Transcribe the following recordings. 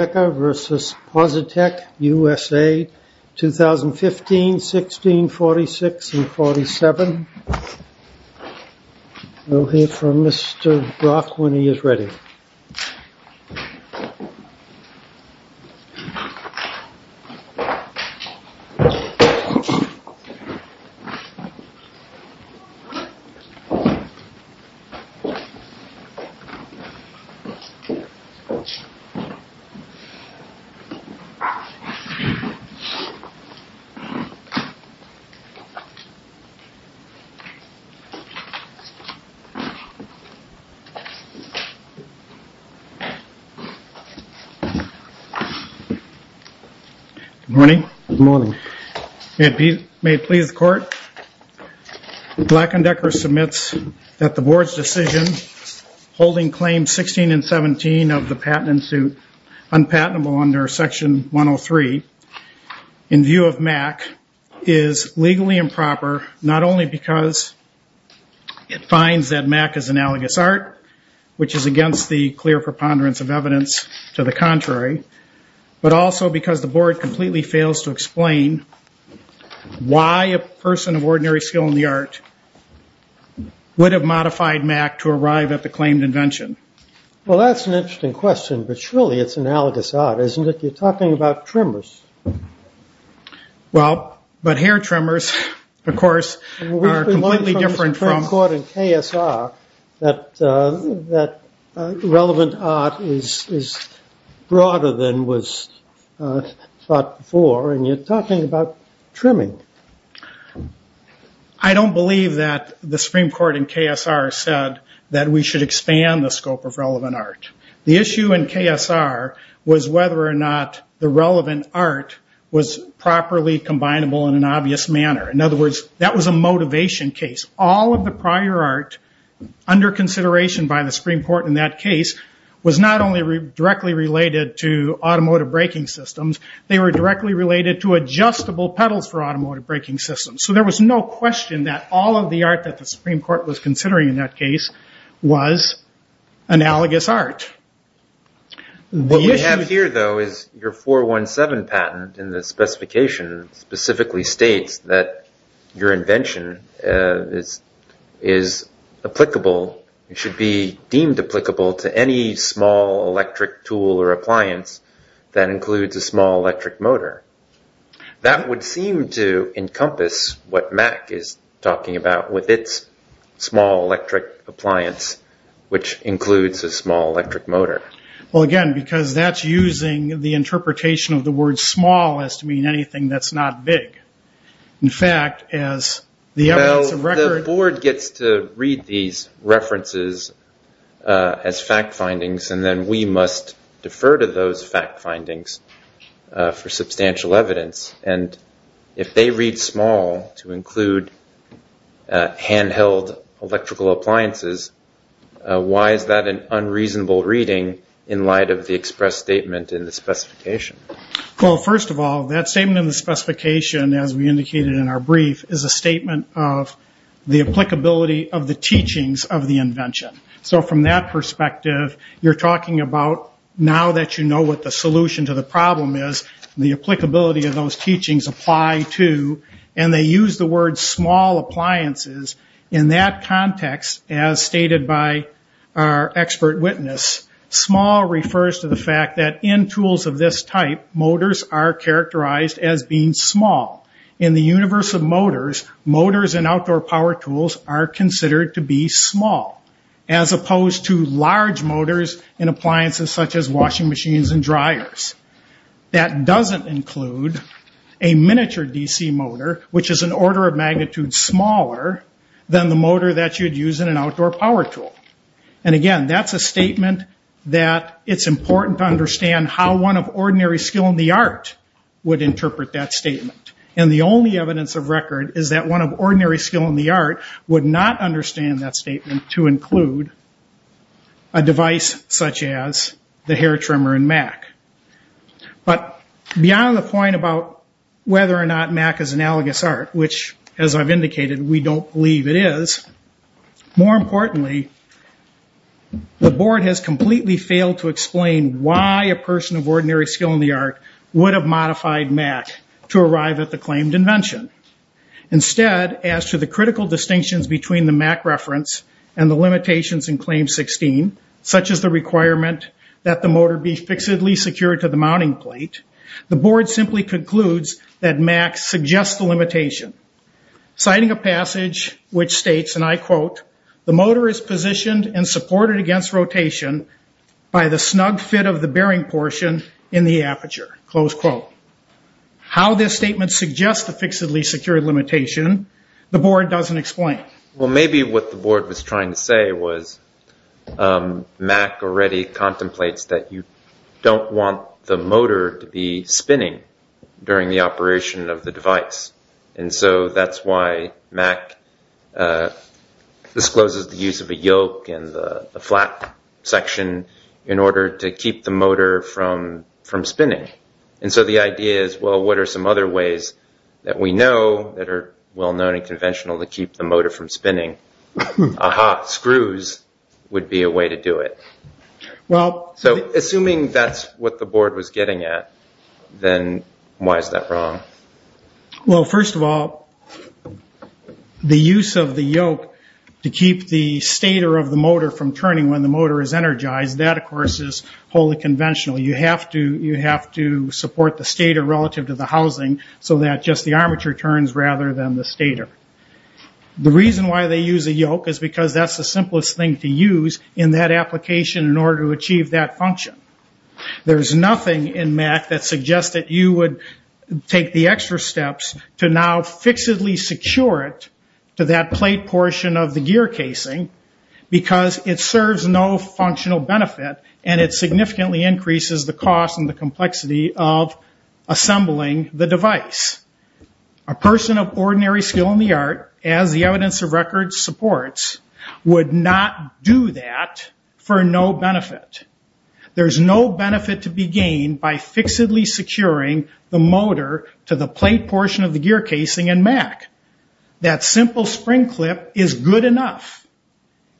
Decker v. Positec USA, 2015, 16, 46, and 47. We'll hear from Mr. Brock when he is ready. Good morning. May it please the Court, Black & Decker submits that the Board's decision holding Claims of the Patent Institute unpatentable under Section 103 in view of MAC is legally improper not only because it finds that MAC is analogous art, which is against the clear preponderance of evidence to the contrary, but also because the Board completely fails to explain why a person of ordinary skill in the art would have modified MAC to arrive at the claimed invention. Well, that's an interesting question, but surely it's analogous art, isn't it? You're talking about trimmers. Well, but hair trimmers, of course, are completely different from... We've been told by the Supreme Court in KSR that relevant art is broader than was thought before, and you're talking about trimming. I don't believe that the Supreme Court in KSR said that we should expand the scope of relevant art. The issue in KSR was whether or not the relevant art was properly combinable in an obvious manner. In other words, that was a motivation case. All of the prior art, under consideration by the Supreme Court in that case, was not only directly related to automotive braking systems, they were directly related to adjustable pedals for automotive braking systems, so there was no question that all of the art that the Supreme Court was considering in that case was analogous art. What we have here, though, is your 417 patent, and the specification specifically states that your invention is applicable, it should be deemed applicable to any small electric tool or appliance that includes a small electric motor. That would seem to encompass what Mack is talking about with its small electric appliance, which includes a small electric motor. Again, because that's using the interpretation of the word small as to mean anything that's not big. In fact, as the evidence of record... The board gets to read these references as fact findings, and then we must defer to those fact findings for substantial evidence. If they read small to include handheld electrical appliances, why is that an unreasonable reading in light of the express statement in the specification? First of all, that statement in the specification, as we indicated in our brief, is a statement of the applicability of the teachings of the invention. From that perspective, you're talking about now that you know what the solution to the problem is, the applicability of those teachings apply to, and they use the word small appliances. In that context, as stated by our expert witness, small refers to the fact that in tools of this type, motors are characterized as being small. In the universe of motors, motors and outdoor power tools are considered to be small, as opposed to large motors in appliances such as washing machines and dryers. That doesn't include a miniature DC motor, which is an order of magnitude smaller than the motor that you'd use in an outdoor power tool. Again, that's a statement that it's important to understand how one of ordinary skill in the art would interpret that statement, and the only evidence of record is that one of ordinary skill in the art would not understand that statement to include a device such as the hair trimmer in Mac. Beyond the point about whether or not Mac is analogous art, which, as I've indicated, we don't believe it is, more importantly, the board has completely failed to explain why a person of ordinary skill in the art would have modified Mac to arrive at the claimed invention. Instead, as to the critical distinctions between the Mac reference and the limitations in claim 16, such as the requirement that the motor be fixedly secured to the mounting plate, the board simply concludes that Mac suggests the limitation. Citing a passage which states, and I quote, the motor is positioned and supported against rotation by the snug fit of the bearing portion in the aperture, close quote. How this statement suggests the fixedly secured limitation, the board doesn't explain. Well, maybe what the board was trying to say was Mac already contemplates that you don't want the motor to be spinning during the operation of the device, and so that's why Mac discloses the use of a yoke and the flat section in order to keep the motor from spinning. And so the idea is, well, what are some other ways that we know that are well-known and conventional to keep the motor from spinning? Aha, screws would be a way to do it. So assuming that's what the board was getting at, then why is that wrong? Well, first of all, the use of the yoke to keep the stator of the motor from turning when the motor is energized, that of course is wholly conventional. You have to support the stator relative to the housing so that just the armature turns rather than the stator. The reason why they use a yoke is because that's the simplest thing to use in that application in order to achieve that function. There's nothing in Mac that suggests that you would take the extra steps to now fixedly secure it to that plate portion of the gear casing because it serves no functional benefit and it significantly increases the cost and the complexity of assembling the device. A person of ordinary skill in the art, as the evidence of record supports, would not do that for no benefit. There's no benefit to be gained by fixedly securing the motor to the plate portion of the gear casing in Mac. That simple spring clip is good enough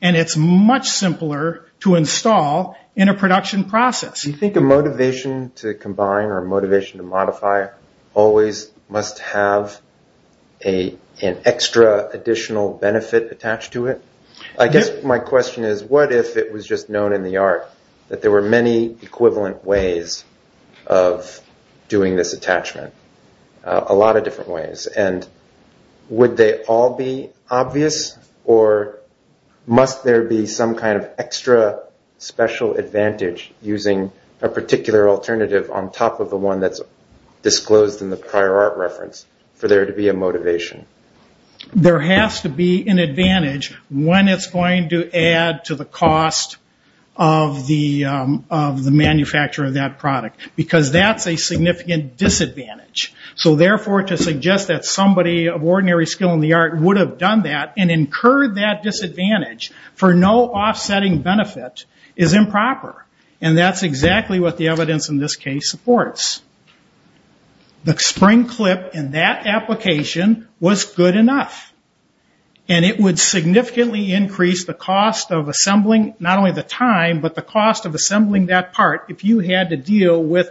and it's much simpler to install in a production process. Do you think a motivation to combine or a motivation to modify always must have an extra additional benefit attached to it? I guess my question is, what if it was just known in the art that there were many equivalent ways of doing this attachment? A lot of different ways. Would they all be obvious or must there be some kind of extra special advantage using a particular alternative on top of the one that's disclosed in the prior art reference for there to be a motivation? There has to be an advantage when it's going to add to the cost of the manufacturer of that product because that's a significant disadvantage. Therefore, to suggest that somebody of ordinary skill in the art would have done that and incurred that disadvantage for no offsetting benefit is improper. That's exactly what the evidence in this case supports. The spring clip in that application was good enough and it would significantly increase the cost of assembling not only the time but the cost of assembling that part if you had to deal with,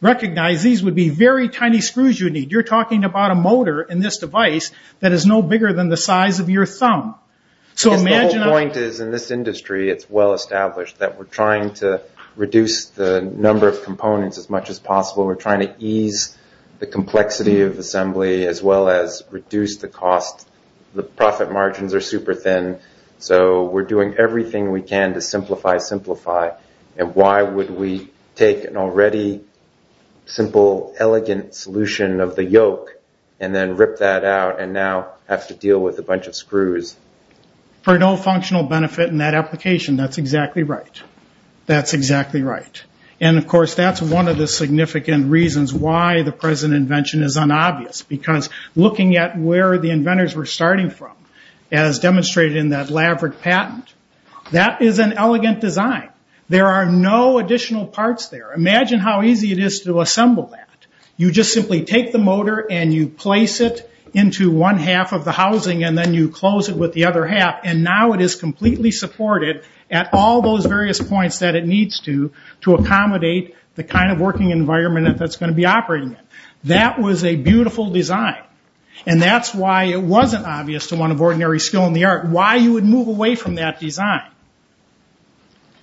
recognize these would be very tiny screws you need. You're talking about a motor in this device that is no bigger than the size of your thumb. If the whole point is in this industry it's well established that we're trying to reduce the number of components as much as possible. We're trying to ease the complexity of assembly as well as reduce the cost. The profit margins are super thin so we're doing everything we can to simplify, simplify. Why would we take an already simple, elegant solution of the yoke and then rip that out and now have to deal with a bunch of screws? For no functional benefit in that application, that's exactly right. That's exactly right. Of course, that's one of the significant reasons why the present invention is unobvious because looking at where the inventors were starting from as demonstrated in that Laverick patent, that is an elegant design. There are no additional parts there. Imagine how easy it is to assemble that. You just simply take the motor and you place it into one half of the housing and then you close it with the other half and now it is completely supported at all those various points that it needs to accommodate the kind of working environment that's going to be operating in. That was a beautiful design and that's why it wasn't obvious to one of ordinary skill in the art why you would move away from that design.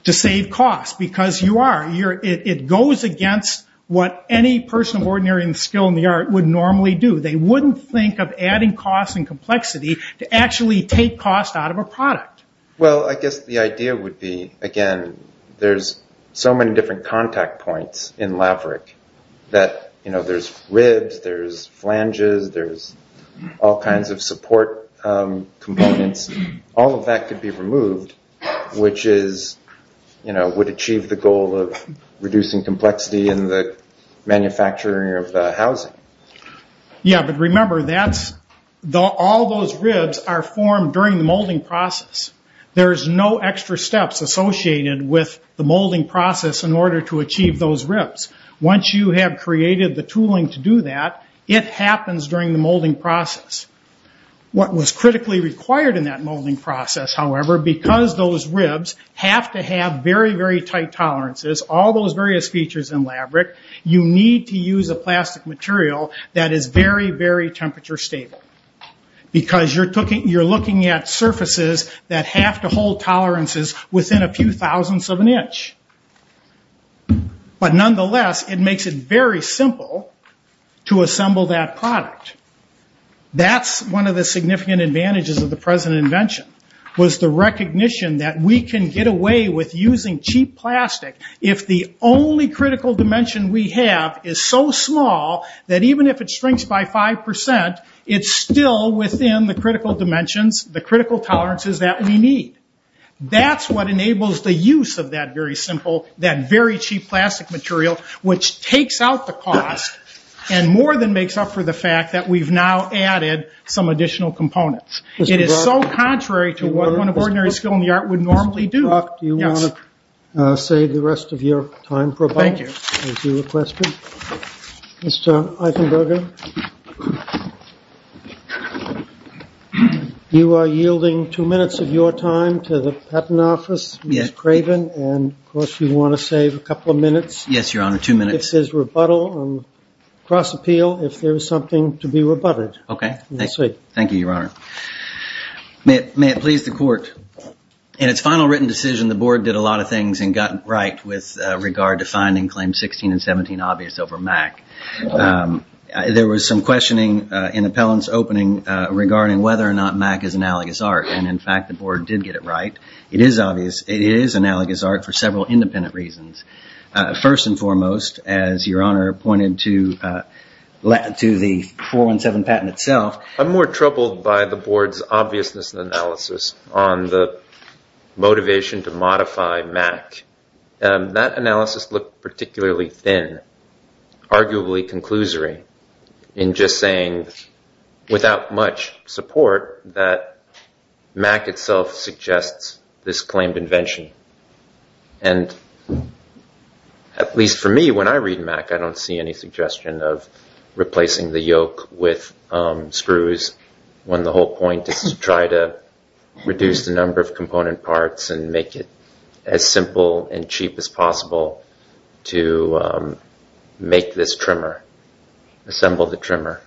To save cost because it goes against what any person of ordinary skill in the art would normally do. They wouldn't think of adding cost and complexity to actually take cost out of a product. I guess the idea would be, again, there's so many different contact points in Laverick that there's ribs, there's flanges, there's all kinds of support components. All of that could be removed, which would achieve the goal of reducing complexity in the manufacturing of the housing. Remember, all those ribs are formed during the molding process. There's no extra steps associated with the molding process in order to achieve those ribs. Once you have created the tooling to do that, it happens during the molding process. What was critically required in that molding process, however, because those ribs have to have very, very tight tolerances, all those various features in Laverick, you need to have a material that is very, very temperature stable because you're looking at surfaces that have to hold tolerances within a few thousandths of an inch. Nonetheless, it makes it very simple to assemble that product. That's one of the significant advantages of the present invention was the recognition that we can get away with using cheap plastic if the only critical dimension we have is so small that even if it shrinks by five percent, it's still within the critical dimensions, the critical tolerances that we need. That's what enables the use of that very simple, that very cheap plastic material, which takes out the cost and more than makes up for the fact that we've now added some additional components. It is so contrary to what one of ordinary skill in the art would normally do. Mr. Buck, do you want to save the rest of your time for a bite? Thank you. As you requested. Mr. Eichenberger, you are yielding two minutes of your time to the patent office, Ms. Craven, and of course you want to save a couple of minutes. Yes, Your Honor, two minutes. If there's rebuttal on cross-appeal, if there's something to be rebutted. Okay. Thank you, Your Honor. May it please the court. In its final written decision, the board did a lot of things and got it right with regard to finding Claim 16 and 17 obvious over MAC. There was some questioning in appellant's opening regarding whether or not MAC is analogous art, and in fact the board did get it right. It is analogous art for several independent reasons. First and foremost, as Your Honor pointed to the 417 patent itself. I'm more troubled by the board's obviousness and analysis on the motivation to modify MAC. That analysis looked particularly thin, arguably conclusory, in just saying, without much support, that MAC itself suggests this claimed invention. At least for me, when I read MAC, I don't see any suggestion of replacing the yoke with screws, when the whole point is to try to reduce the number of component parts and make it as simple and cheap as possible to make this trimmer, assemble the trimmer.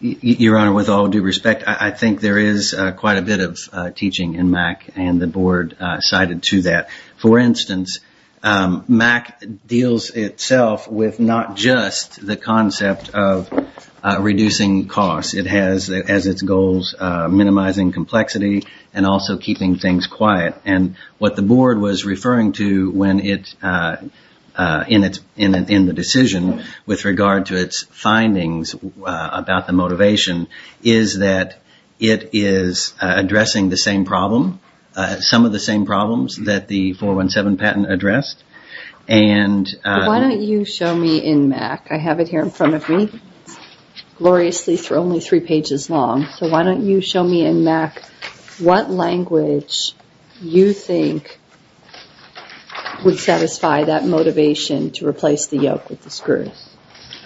Your Honor, with all due respect, I think there is quite a bit of teaching in MAC and the board cited to that. For instance, MAC deals itself with not just the concept of reducing costs. It has its goals minimizing complexity and also keeping things quiet. What the board was referring to in the decision with regard to its findings about the motivation is that it is addressing the same problem. Some of the same problems that the 417 patent addressed. Why don't you show me in MAC, I have it here in front of me, gloriously only three pages long, so why don't you show me in MAC what language you think would satisfy that motivation to replace the yoke with the screws?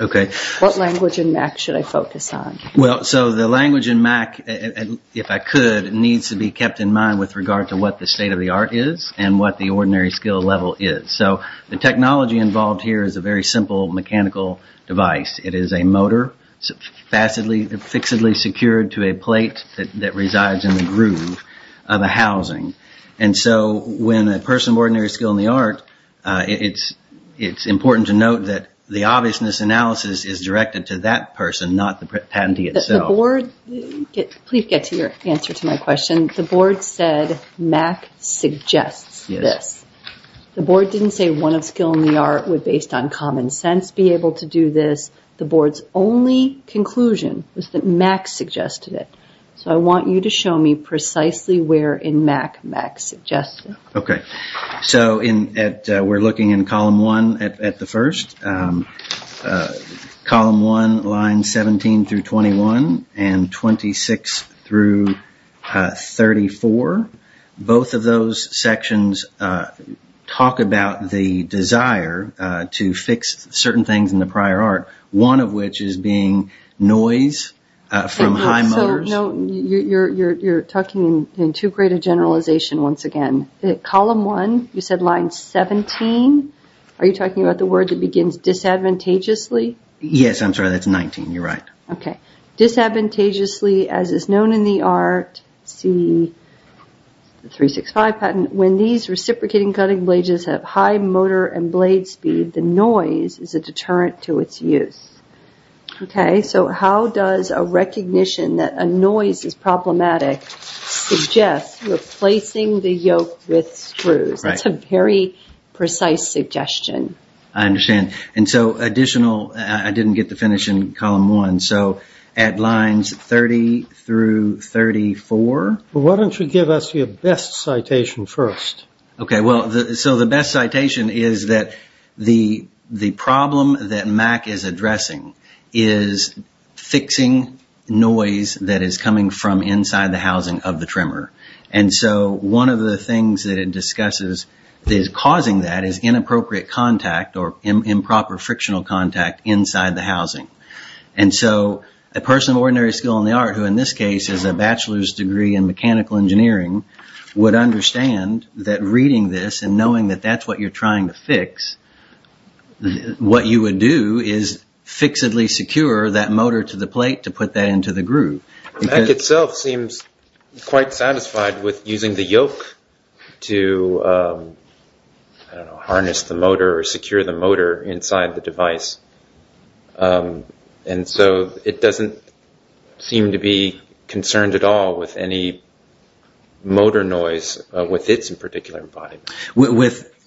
Okay. What language in MAC should I focus on? The language in MAC, if I could, needs to be kept in mind with regard to what the state of the art is and what the ordinary skill level is. The technology involved here is a very simple mechanical device. It is a motor, fixedly secured to a plate that resides in the groove of a housing. When a person of ordinary skill in the art, it is important to note that the obviousness of the analysis is directed to that person, not the patentee itself. Please get to your answer to my question. The board said MAC suggests this. The board didn't say one of skill in the art would, based on common sense, be able to do this. The board's only conclusion was that MAC suggested it. I want you to show me precisely where in MAC MAC suggested it. Okay. We're looking in column one at the first. Column one, line 17 through 21, and 26 through 34. Both of those sections talk about the desire to fix certain things in the prior art, one of which is being noise from high motors. You're talking in too great a generalization once again. Column one, you said line 17. Are you talking about the word that begins disadvantageously? Yes, I'm sorry, that's 19. You're right. Okay. Disadvantageously, as is known in the art, see the 365 patent, when these reciprocating cutting blades have high motor and blade speed, the noise is a deterrent to its use. Okay, so how does a recognition that a noise is problematic suggest replacing the yoke with screws? That's a very precise suggestion. I understand. And so additional, I didn't get to finish in column one, so at lines 30 through 34. Why don't you give us your best citation first? Okay, so the best citation is that the problem that MAC is addressing is fixing noise that is coming from inside the housing of the trimmer. And so one of the things that it discusses that is causing that is inappropriate contact or improper frictional contact inside the housing. And so a person of ordinary skill in the art, who in this case has a bachelor's degree in mechanical engineering, would understand that reading this and knowing that that's what you're trying to fix, what you would do is fixedly secure that motor to the plate to put that into the groove. MAC itself seems quite satisfied with using the yoke to harness the motor or secure the motor inside the device. And so it doesn't seem to be concerned at all with any motor noise with its particular embodiment.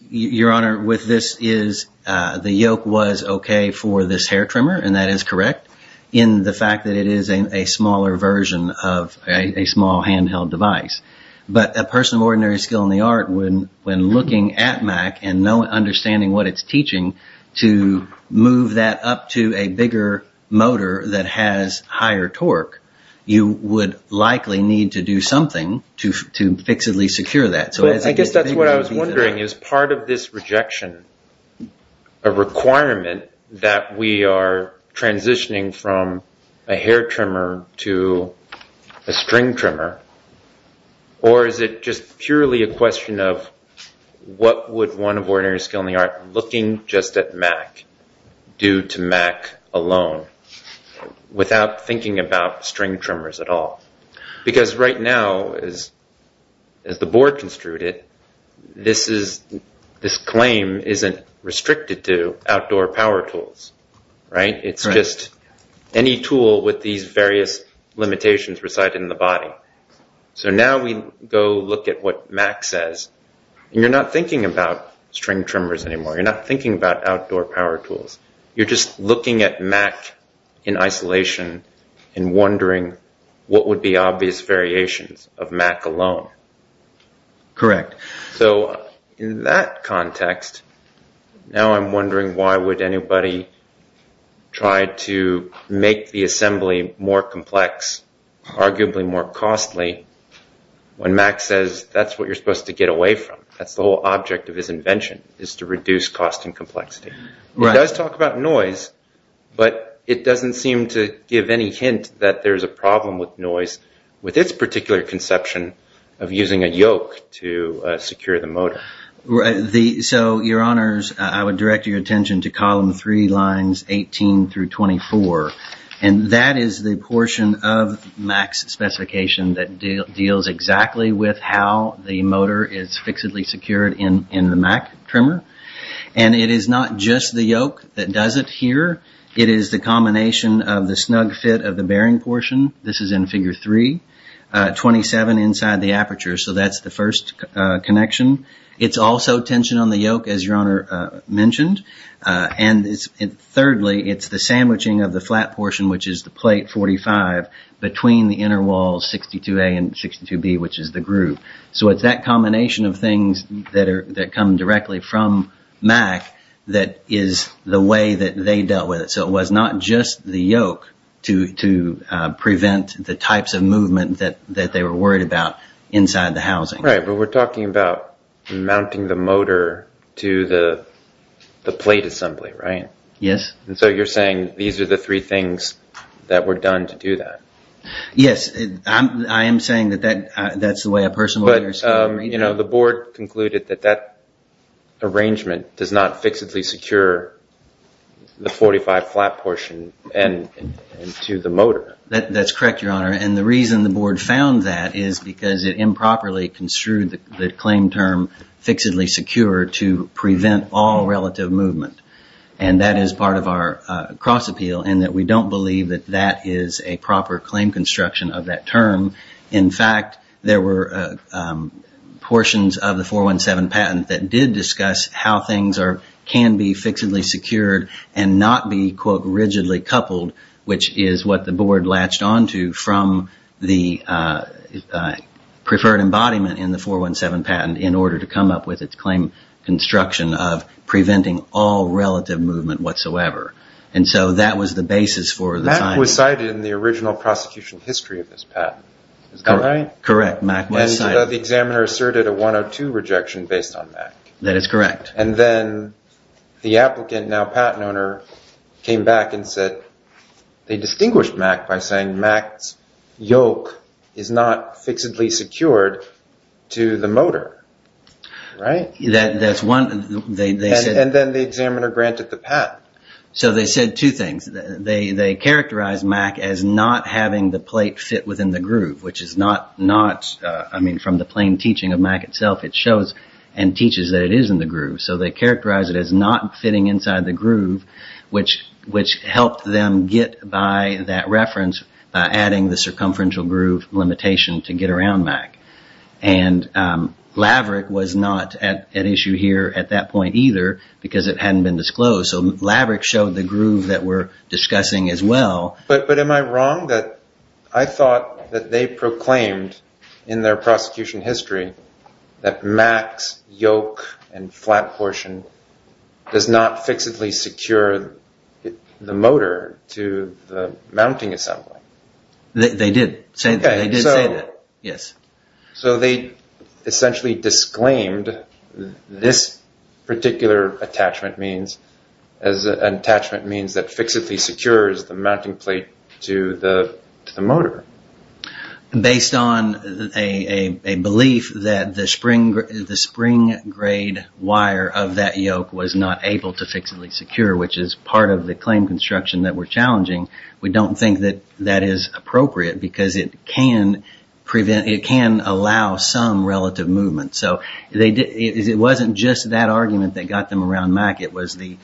Your Honor, with this is, the yoke was okay for this hair trimmer, and that is correct, in the fact that it is a smaller version of a small handheld device. But a person of ordinary skill in the art, when looking at MAC and understanding what it's teaching to move that up to a bigger motor that has higher torque, you would likely need to do something to fixedly secure that. So I guess that's what I was wondering, is part of this rejection a requirement that we are transitioning from a hair trimmer to a string trimmer? Or is it just purely a question of what would one of ordinary skill in the art looking just at MAC do to MAC alone, without thinking about string trimmers at all? Because right now, as the Board construed it, this claim isn't restricted to outdoor power tools. It's just any tool with these various limitations residing in the body. So now we go look at what MAC says, and you're not thinking about string trimmers anymore. You're not thinking about outdoor power tools. You're just looking at MAC in isolation and wondering what would be obvious variations of MAC alone. Correct. So in that context, now I'm wondering why would anybody try to make the assembly more complex, arguably more costly, when MAC says that's what you're supposed to get away from. That's the whole object of his invention, is to reduce cost and complexity. It does talk about noise, but it doesn't seem to give any hint that there's a problem with noise with its particular conception of using a yoke to secure the motor. So, your honors, I would direct your attention to column 3, lines 18 through 24. And that is the portion of MAC's specification that deals exactly with how the motor is fixedly secured in the MAC trimmer. And it is not just the yoke that does it here. It is the combination of the snug fit of the bearing portion. This is in figure 3. 27 inside the aperture, so that's the first connection. It's also tension on the yoke, as your honor mentioned. And thirdly, it's the sandwiching of the flat portion, which is the plate 45, between the inner wall 62A and 62B, which is the groove. So it's that combination of things that come directly from MAC that is the way that they dealt with it. So it was not just the yoke to prevent the types of movement that they were worried about inside the housing. Right, but we're talking about mounting the motor to the plate assembly, right? Yes. And so you're saying these are the three things that were done to do that? Yes. I am saying that that's the way a person... You know, the board concluded that that arrangement does not fixedly secure the 45 flat portion and to the motor. That's correct, your honor. And the reason the board found that is because it improperly construed the claim term fixedly secure to prevent all relative movement. And that is part of our cross appeal and that we don't believe that that is a proper claim construction of that term. In fact, there were portions of the 417 patent that did discuss how things can be fixedly secured and not be, quote, rigidly coupled, which is what the board latched onto from the preferred embodiment in the 417 patent in order to come up with its claim construction of preventing all relative movement whatsoever. And so that was the basis for the finding. MAC was cited in the original prosecution history of this patent. Is that right? Correct. MAC was cited. And the examiner asserted a 102 rejection based on MAC. That is correct. And then the applicant, now patent owner, came back and said they distinguished MAC by saying MAC's yoke is not fixedly secured to the motor. Right? That's one... And then the examiner granted the patent. So they said two things. They characterized MAC as not having the plate fit within the groove, which is not... I mean, from the plain teaching of MAC itself, it shows and teaches that it is in the groove. So they characterized it as not fitting inside the groove, which helped them get by that reference by adding the circumferential groove limitation to get around MAC. And LAVRIC was not at issue here at that point either because it hadn't been disclosed. So LAVRIC showed the groove that we're discussing as well. But am I wrong that I thought that they proclaimed in their prosecution history that MAC's yoke and flat portion does not fixedly secure the motor to the mounting assembly? They did say that. They did say that. Yes. So they essentially disclaimed this particular attachment as an attachment that fixedly secures the mounting plate to the motor. Based on a belief that the spring grade wire of that yoke was not able to fixedly secure, which is part of the claim construction that we're challenging, we don't think that that is appropriate because it can prevent... it can allow some relative movement. So it wasn't just that argument that got them around MAC. It was the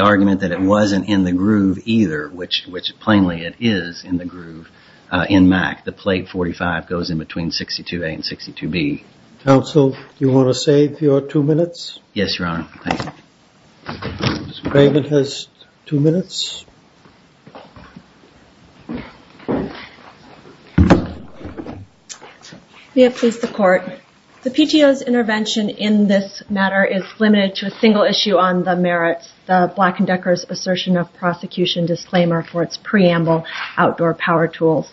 argument that it wasn't in the groove either, which plainly it is in the groove in MAC. The plate 45 goes in between 62A and 62B. Counsel, do you want to save your two minutes? Yes, Your Honor. Thank you. Ms. Brayman has two minutes. May it please the Court. The PTO's intervention in this matter is limited to a single issue on the merits of Black & Decker's assertion of prosecution disclaimer for its preamble outdoor power tools.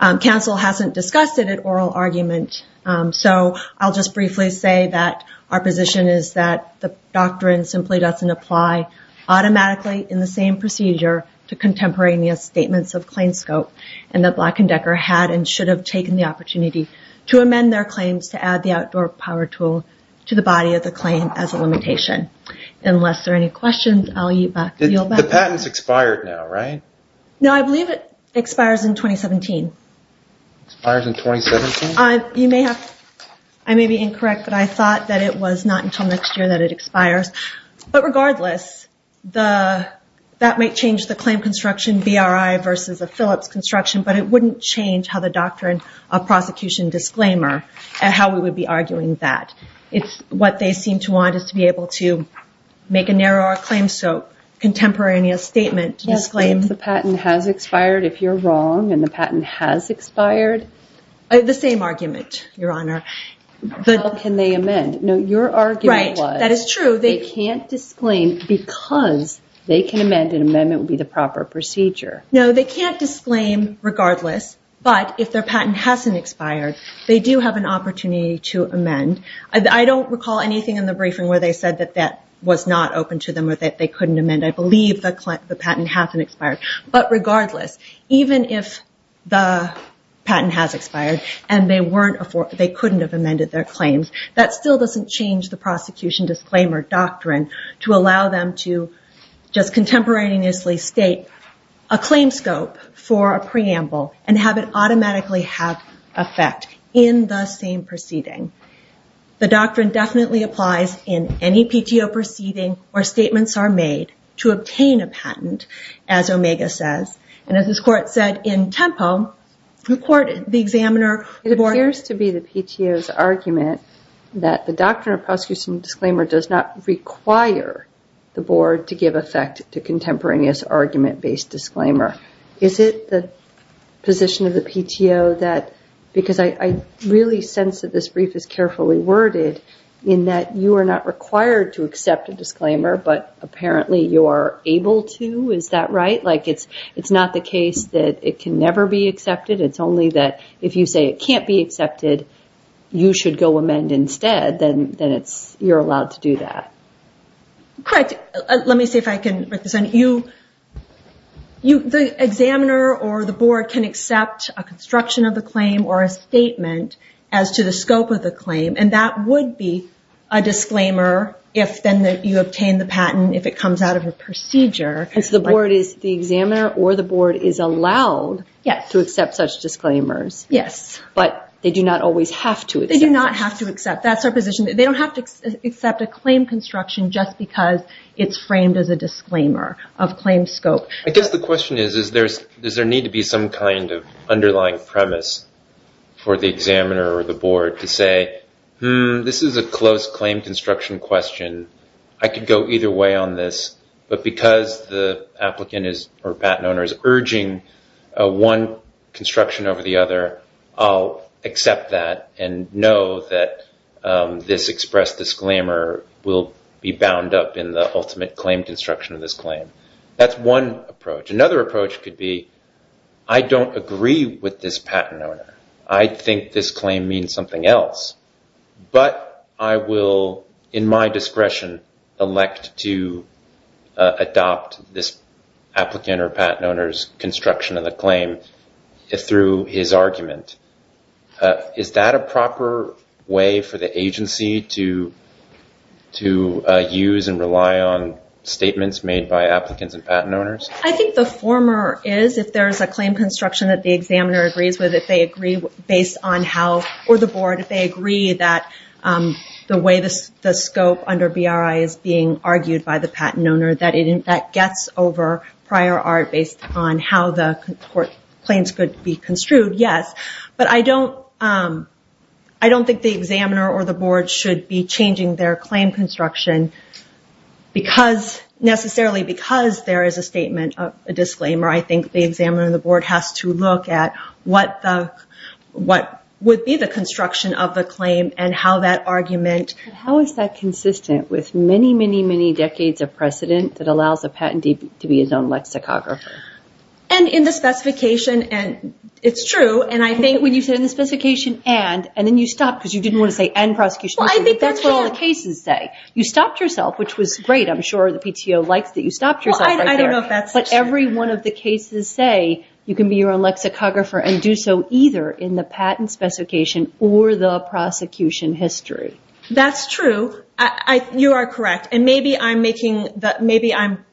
Counsel hasn't discussed it in oral argument, so I'll just briefly say that our position is that the doctrine simply doesn't apply automatically in the same procedure to contemporaneous statements of claim scope and that Black & Decker had and should have taken the opportunity to amend their claims to add the outdoor power tool to the body of the claim as a limitation. Unless there are any questions, I'll yield back. The patent's expired now, right? No, I believe it expires in 2017. Expires in 2017? You may have... I may be incorrect, but I thought that it was not until next year that it expires. But regardless, that may change the claim construction BRI versus a Phillips construction, but it wouldn't change how the doctrine of prosecution disclaimer and how we would be arguing that. It's what they seem to want is to be able to make a narrower claim so contemporaneous statement to disclaim... Yes, but if the patent has expired, if you're wrong and the patent has expired... The same argument, Your Honor. How can they amend? No, your argument was... Right, that is true. They can't disclaim because they can amend and amendment would be the proper procedure. No, they can't disclaim regardless, but if their patent hasn't expired, they do have an opportunity to amend. I don't recall anything in the briefing where they said that that was not open to them or that they couldn't amend. I believe the patent hasn't expired, but regardless, even if the patent has expired and they couldn't have amended their claims, that still doesn't change the prosecution disclaimer doctrine to allow them to just contemporaneously state a claim scope for a preamble and have it automatically have effect in the same proceeding. The doctrine definitely applies in any PTO proceeding where statements are made to obtain a patent as Omega says and as this court said in Tempo, the court, the examiner... It appears to be the PTO's argument that the doctrine disclaimer does not require the board to give effect to contemporaneous argument-based disclaimer. Is it the position of the PTO that because I understand that there is I really sense that this brief is carefully worded in that you are not required to accept a disclaimer but apparently you are able to? Is that right? It's not the case that it can never be accepted. It's only that if you say it can't be accepted, you should go amend instead then you're allowed to do that. Correct. Let me see if I can represent you. The examiner or the board can accept a construction of the claim or a statement as to the scope of the claim and that would be a disclaimer if then you obtain the patent if it comes out of a procedure. The board is the examiner or the board is allowed to accept such disclaimers but they do not always have to accept. They do not have to accept. That's their position. They don't have to accept a claim construction just because it's framed as a disclaimer of claim scope. I guess the question is does there need to be some kind of underlying premise for the examiner or the board to say this is a close claim construction question I can go either way on this but because the applicant or patent owner is urging one construction over the other I'll accept that and know that this expressed disclaimer will be bound up in the ultimate claim construction of this claim. That's one approach. Another approach could be I don't agree with this patent owner. I think this claim means something else but I will in my discretion elect to adopt this applicant or patent owner's construction of the claim through his argument. Is that a proper way for the agency to use and rely on statements made by applicants and patent owners? I think the former is if there's a claim construction that the examiner agrees with if they agree based on how or the board if they agree that the way the scope under BRI is being argued by the patent owner that gets over prior art based on how the claims could be construed yes but I don't think the examiner or the board should be changing their claim construction because necessarily because there is a disclaimer I think the board has to look at what would be the construction of the claim and how that argument How is that consistent with many decades of precedent that allows a patent owner to say you can be your own lexicographer and do so either in the patent specification or the prosecution history that's true you are correct maybe I'm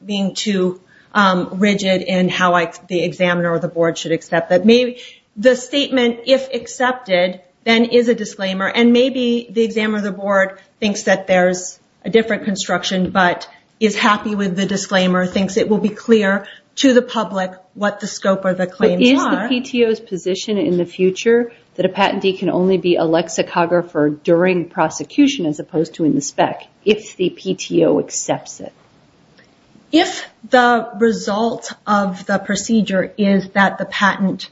being too rigid in how the board thinks it will be clear to the public what the scope of the claims are Is the PTO position in the future that a patentee can only be a lexicographer during prosecution as opposed to in the spec if the PTO accepts it if the result of the procedure is that the patent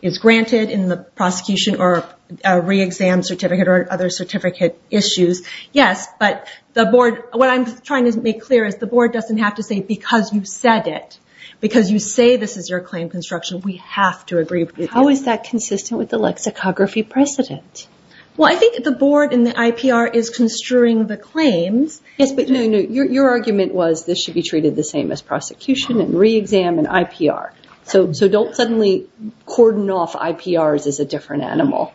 is granted in the prosecution or reexam certificate issues yes but the board what I'm trying to make clear is the board doesn't have to say because you said it because you say this is your claim construction we have to agree with you how is that consistent with the lexicography precedent I think the board and the IPR is construing the claims your argument was this should be treated the same as prosecution so don't suddenly cordon off IPR is a different animal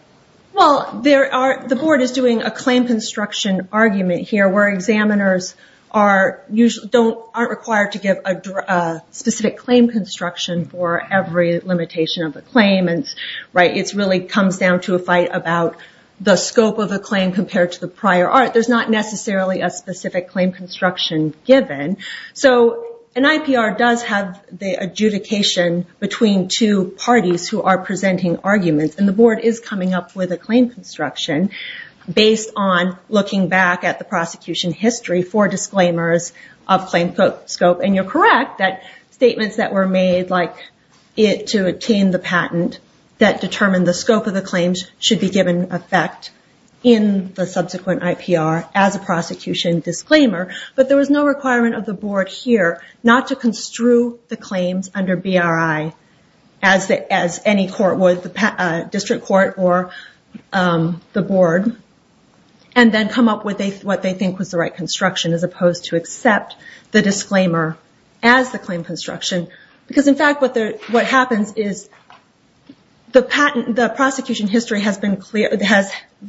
the board is doing a claim construction argument where examiners aren't required to give a specific claim construction for every limitation of the claim it comes down to a fight about the prosecution and the board is coming up with a claim construction based on looking back at the prosecution history for disclaimers of claim scope you are correct statements made to obtain the patent should be given effect in the subsequent IPR but there was no requirement of the board here not to construe the claims under BRI as any district court or the board and then come up with the right construction as opposed to accept the disclaimer what happens is the prosecution history has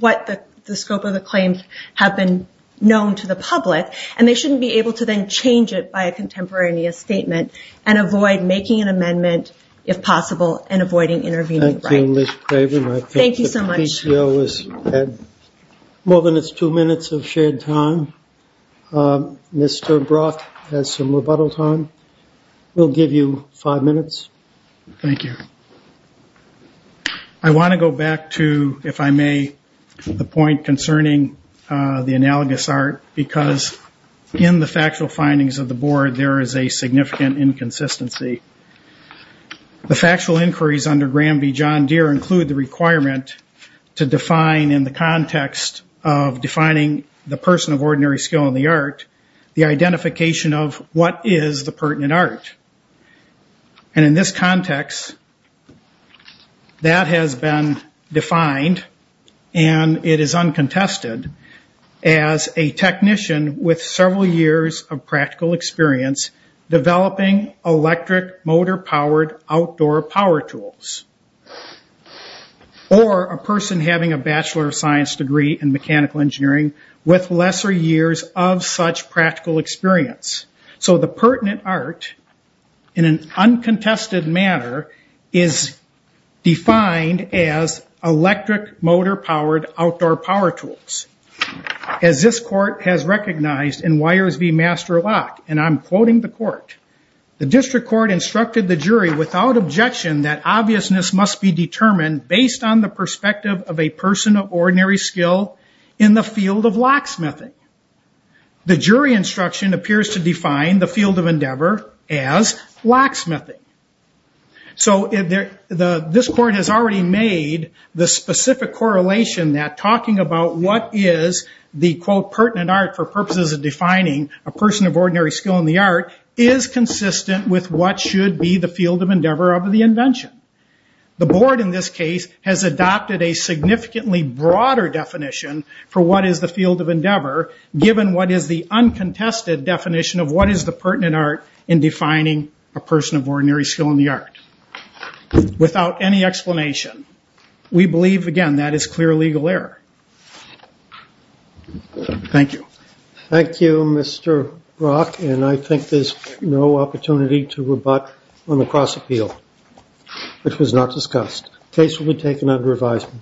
what the scope of the claims have been known to the Thank you. We have two minutes of shared time. Mr. Brock has some rebuttal time. We'll give you five minutes. I want to go back to if I may the point concerning the analogous art because in the factual findings of the board there is a significant inconsistency. The factual inquiries include the requirement to define in the context of defining the person of ordinary skill in the art the identification of what is the pertinent art. And in this context that has been defined and it is uncontested as a technician with several years of practical experience developing electric motor powered outdoor power tools or a person skill of locksmithing. The jury instruction appears to define the pertinent art in an uncontested manner is defined as electric motor powered outdoor power tools. As this court has recognized and I'm quoting the court. The district court instructed the jury without objection based on the perspective of a person of ordinary skill in the field of locksmithing. The jury instruction appears to define the field of endeavor as locksmithing. This court has already made the specific correlation that talking about what is the pertinent art is consistent with what should be the field of endeavor. The board has adopted a significantly broader definition for what is the field of endeavor given what is the pertinent art in defining a person of ordinary skill in the art. Without any explanation we believe, again, that is clear legal error. Thank you. Thank you, Mr. Brock, and I think there's no opportunity to rebut on the cross appeal. The case will be taken under advisement.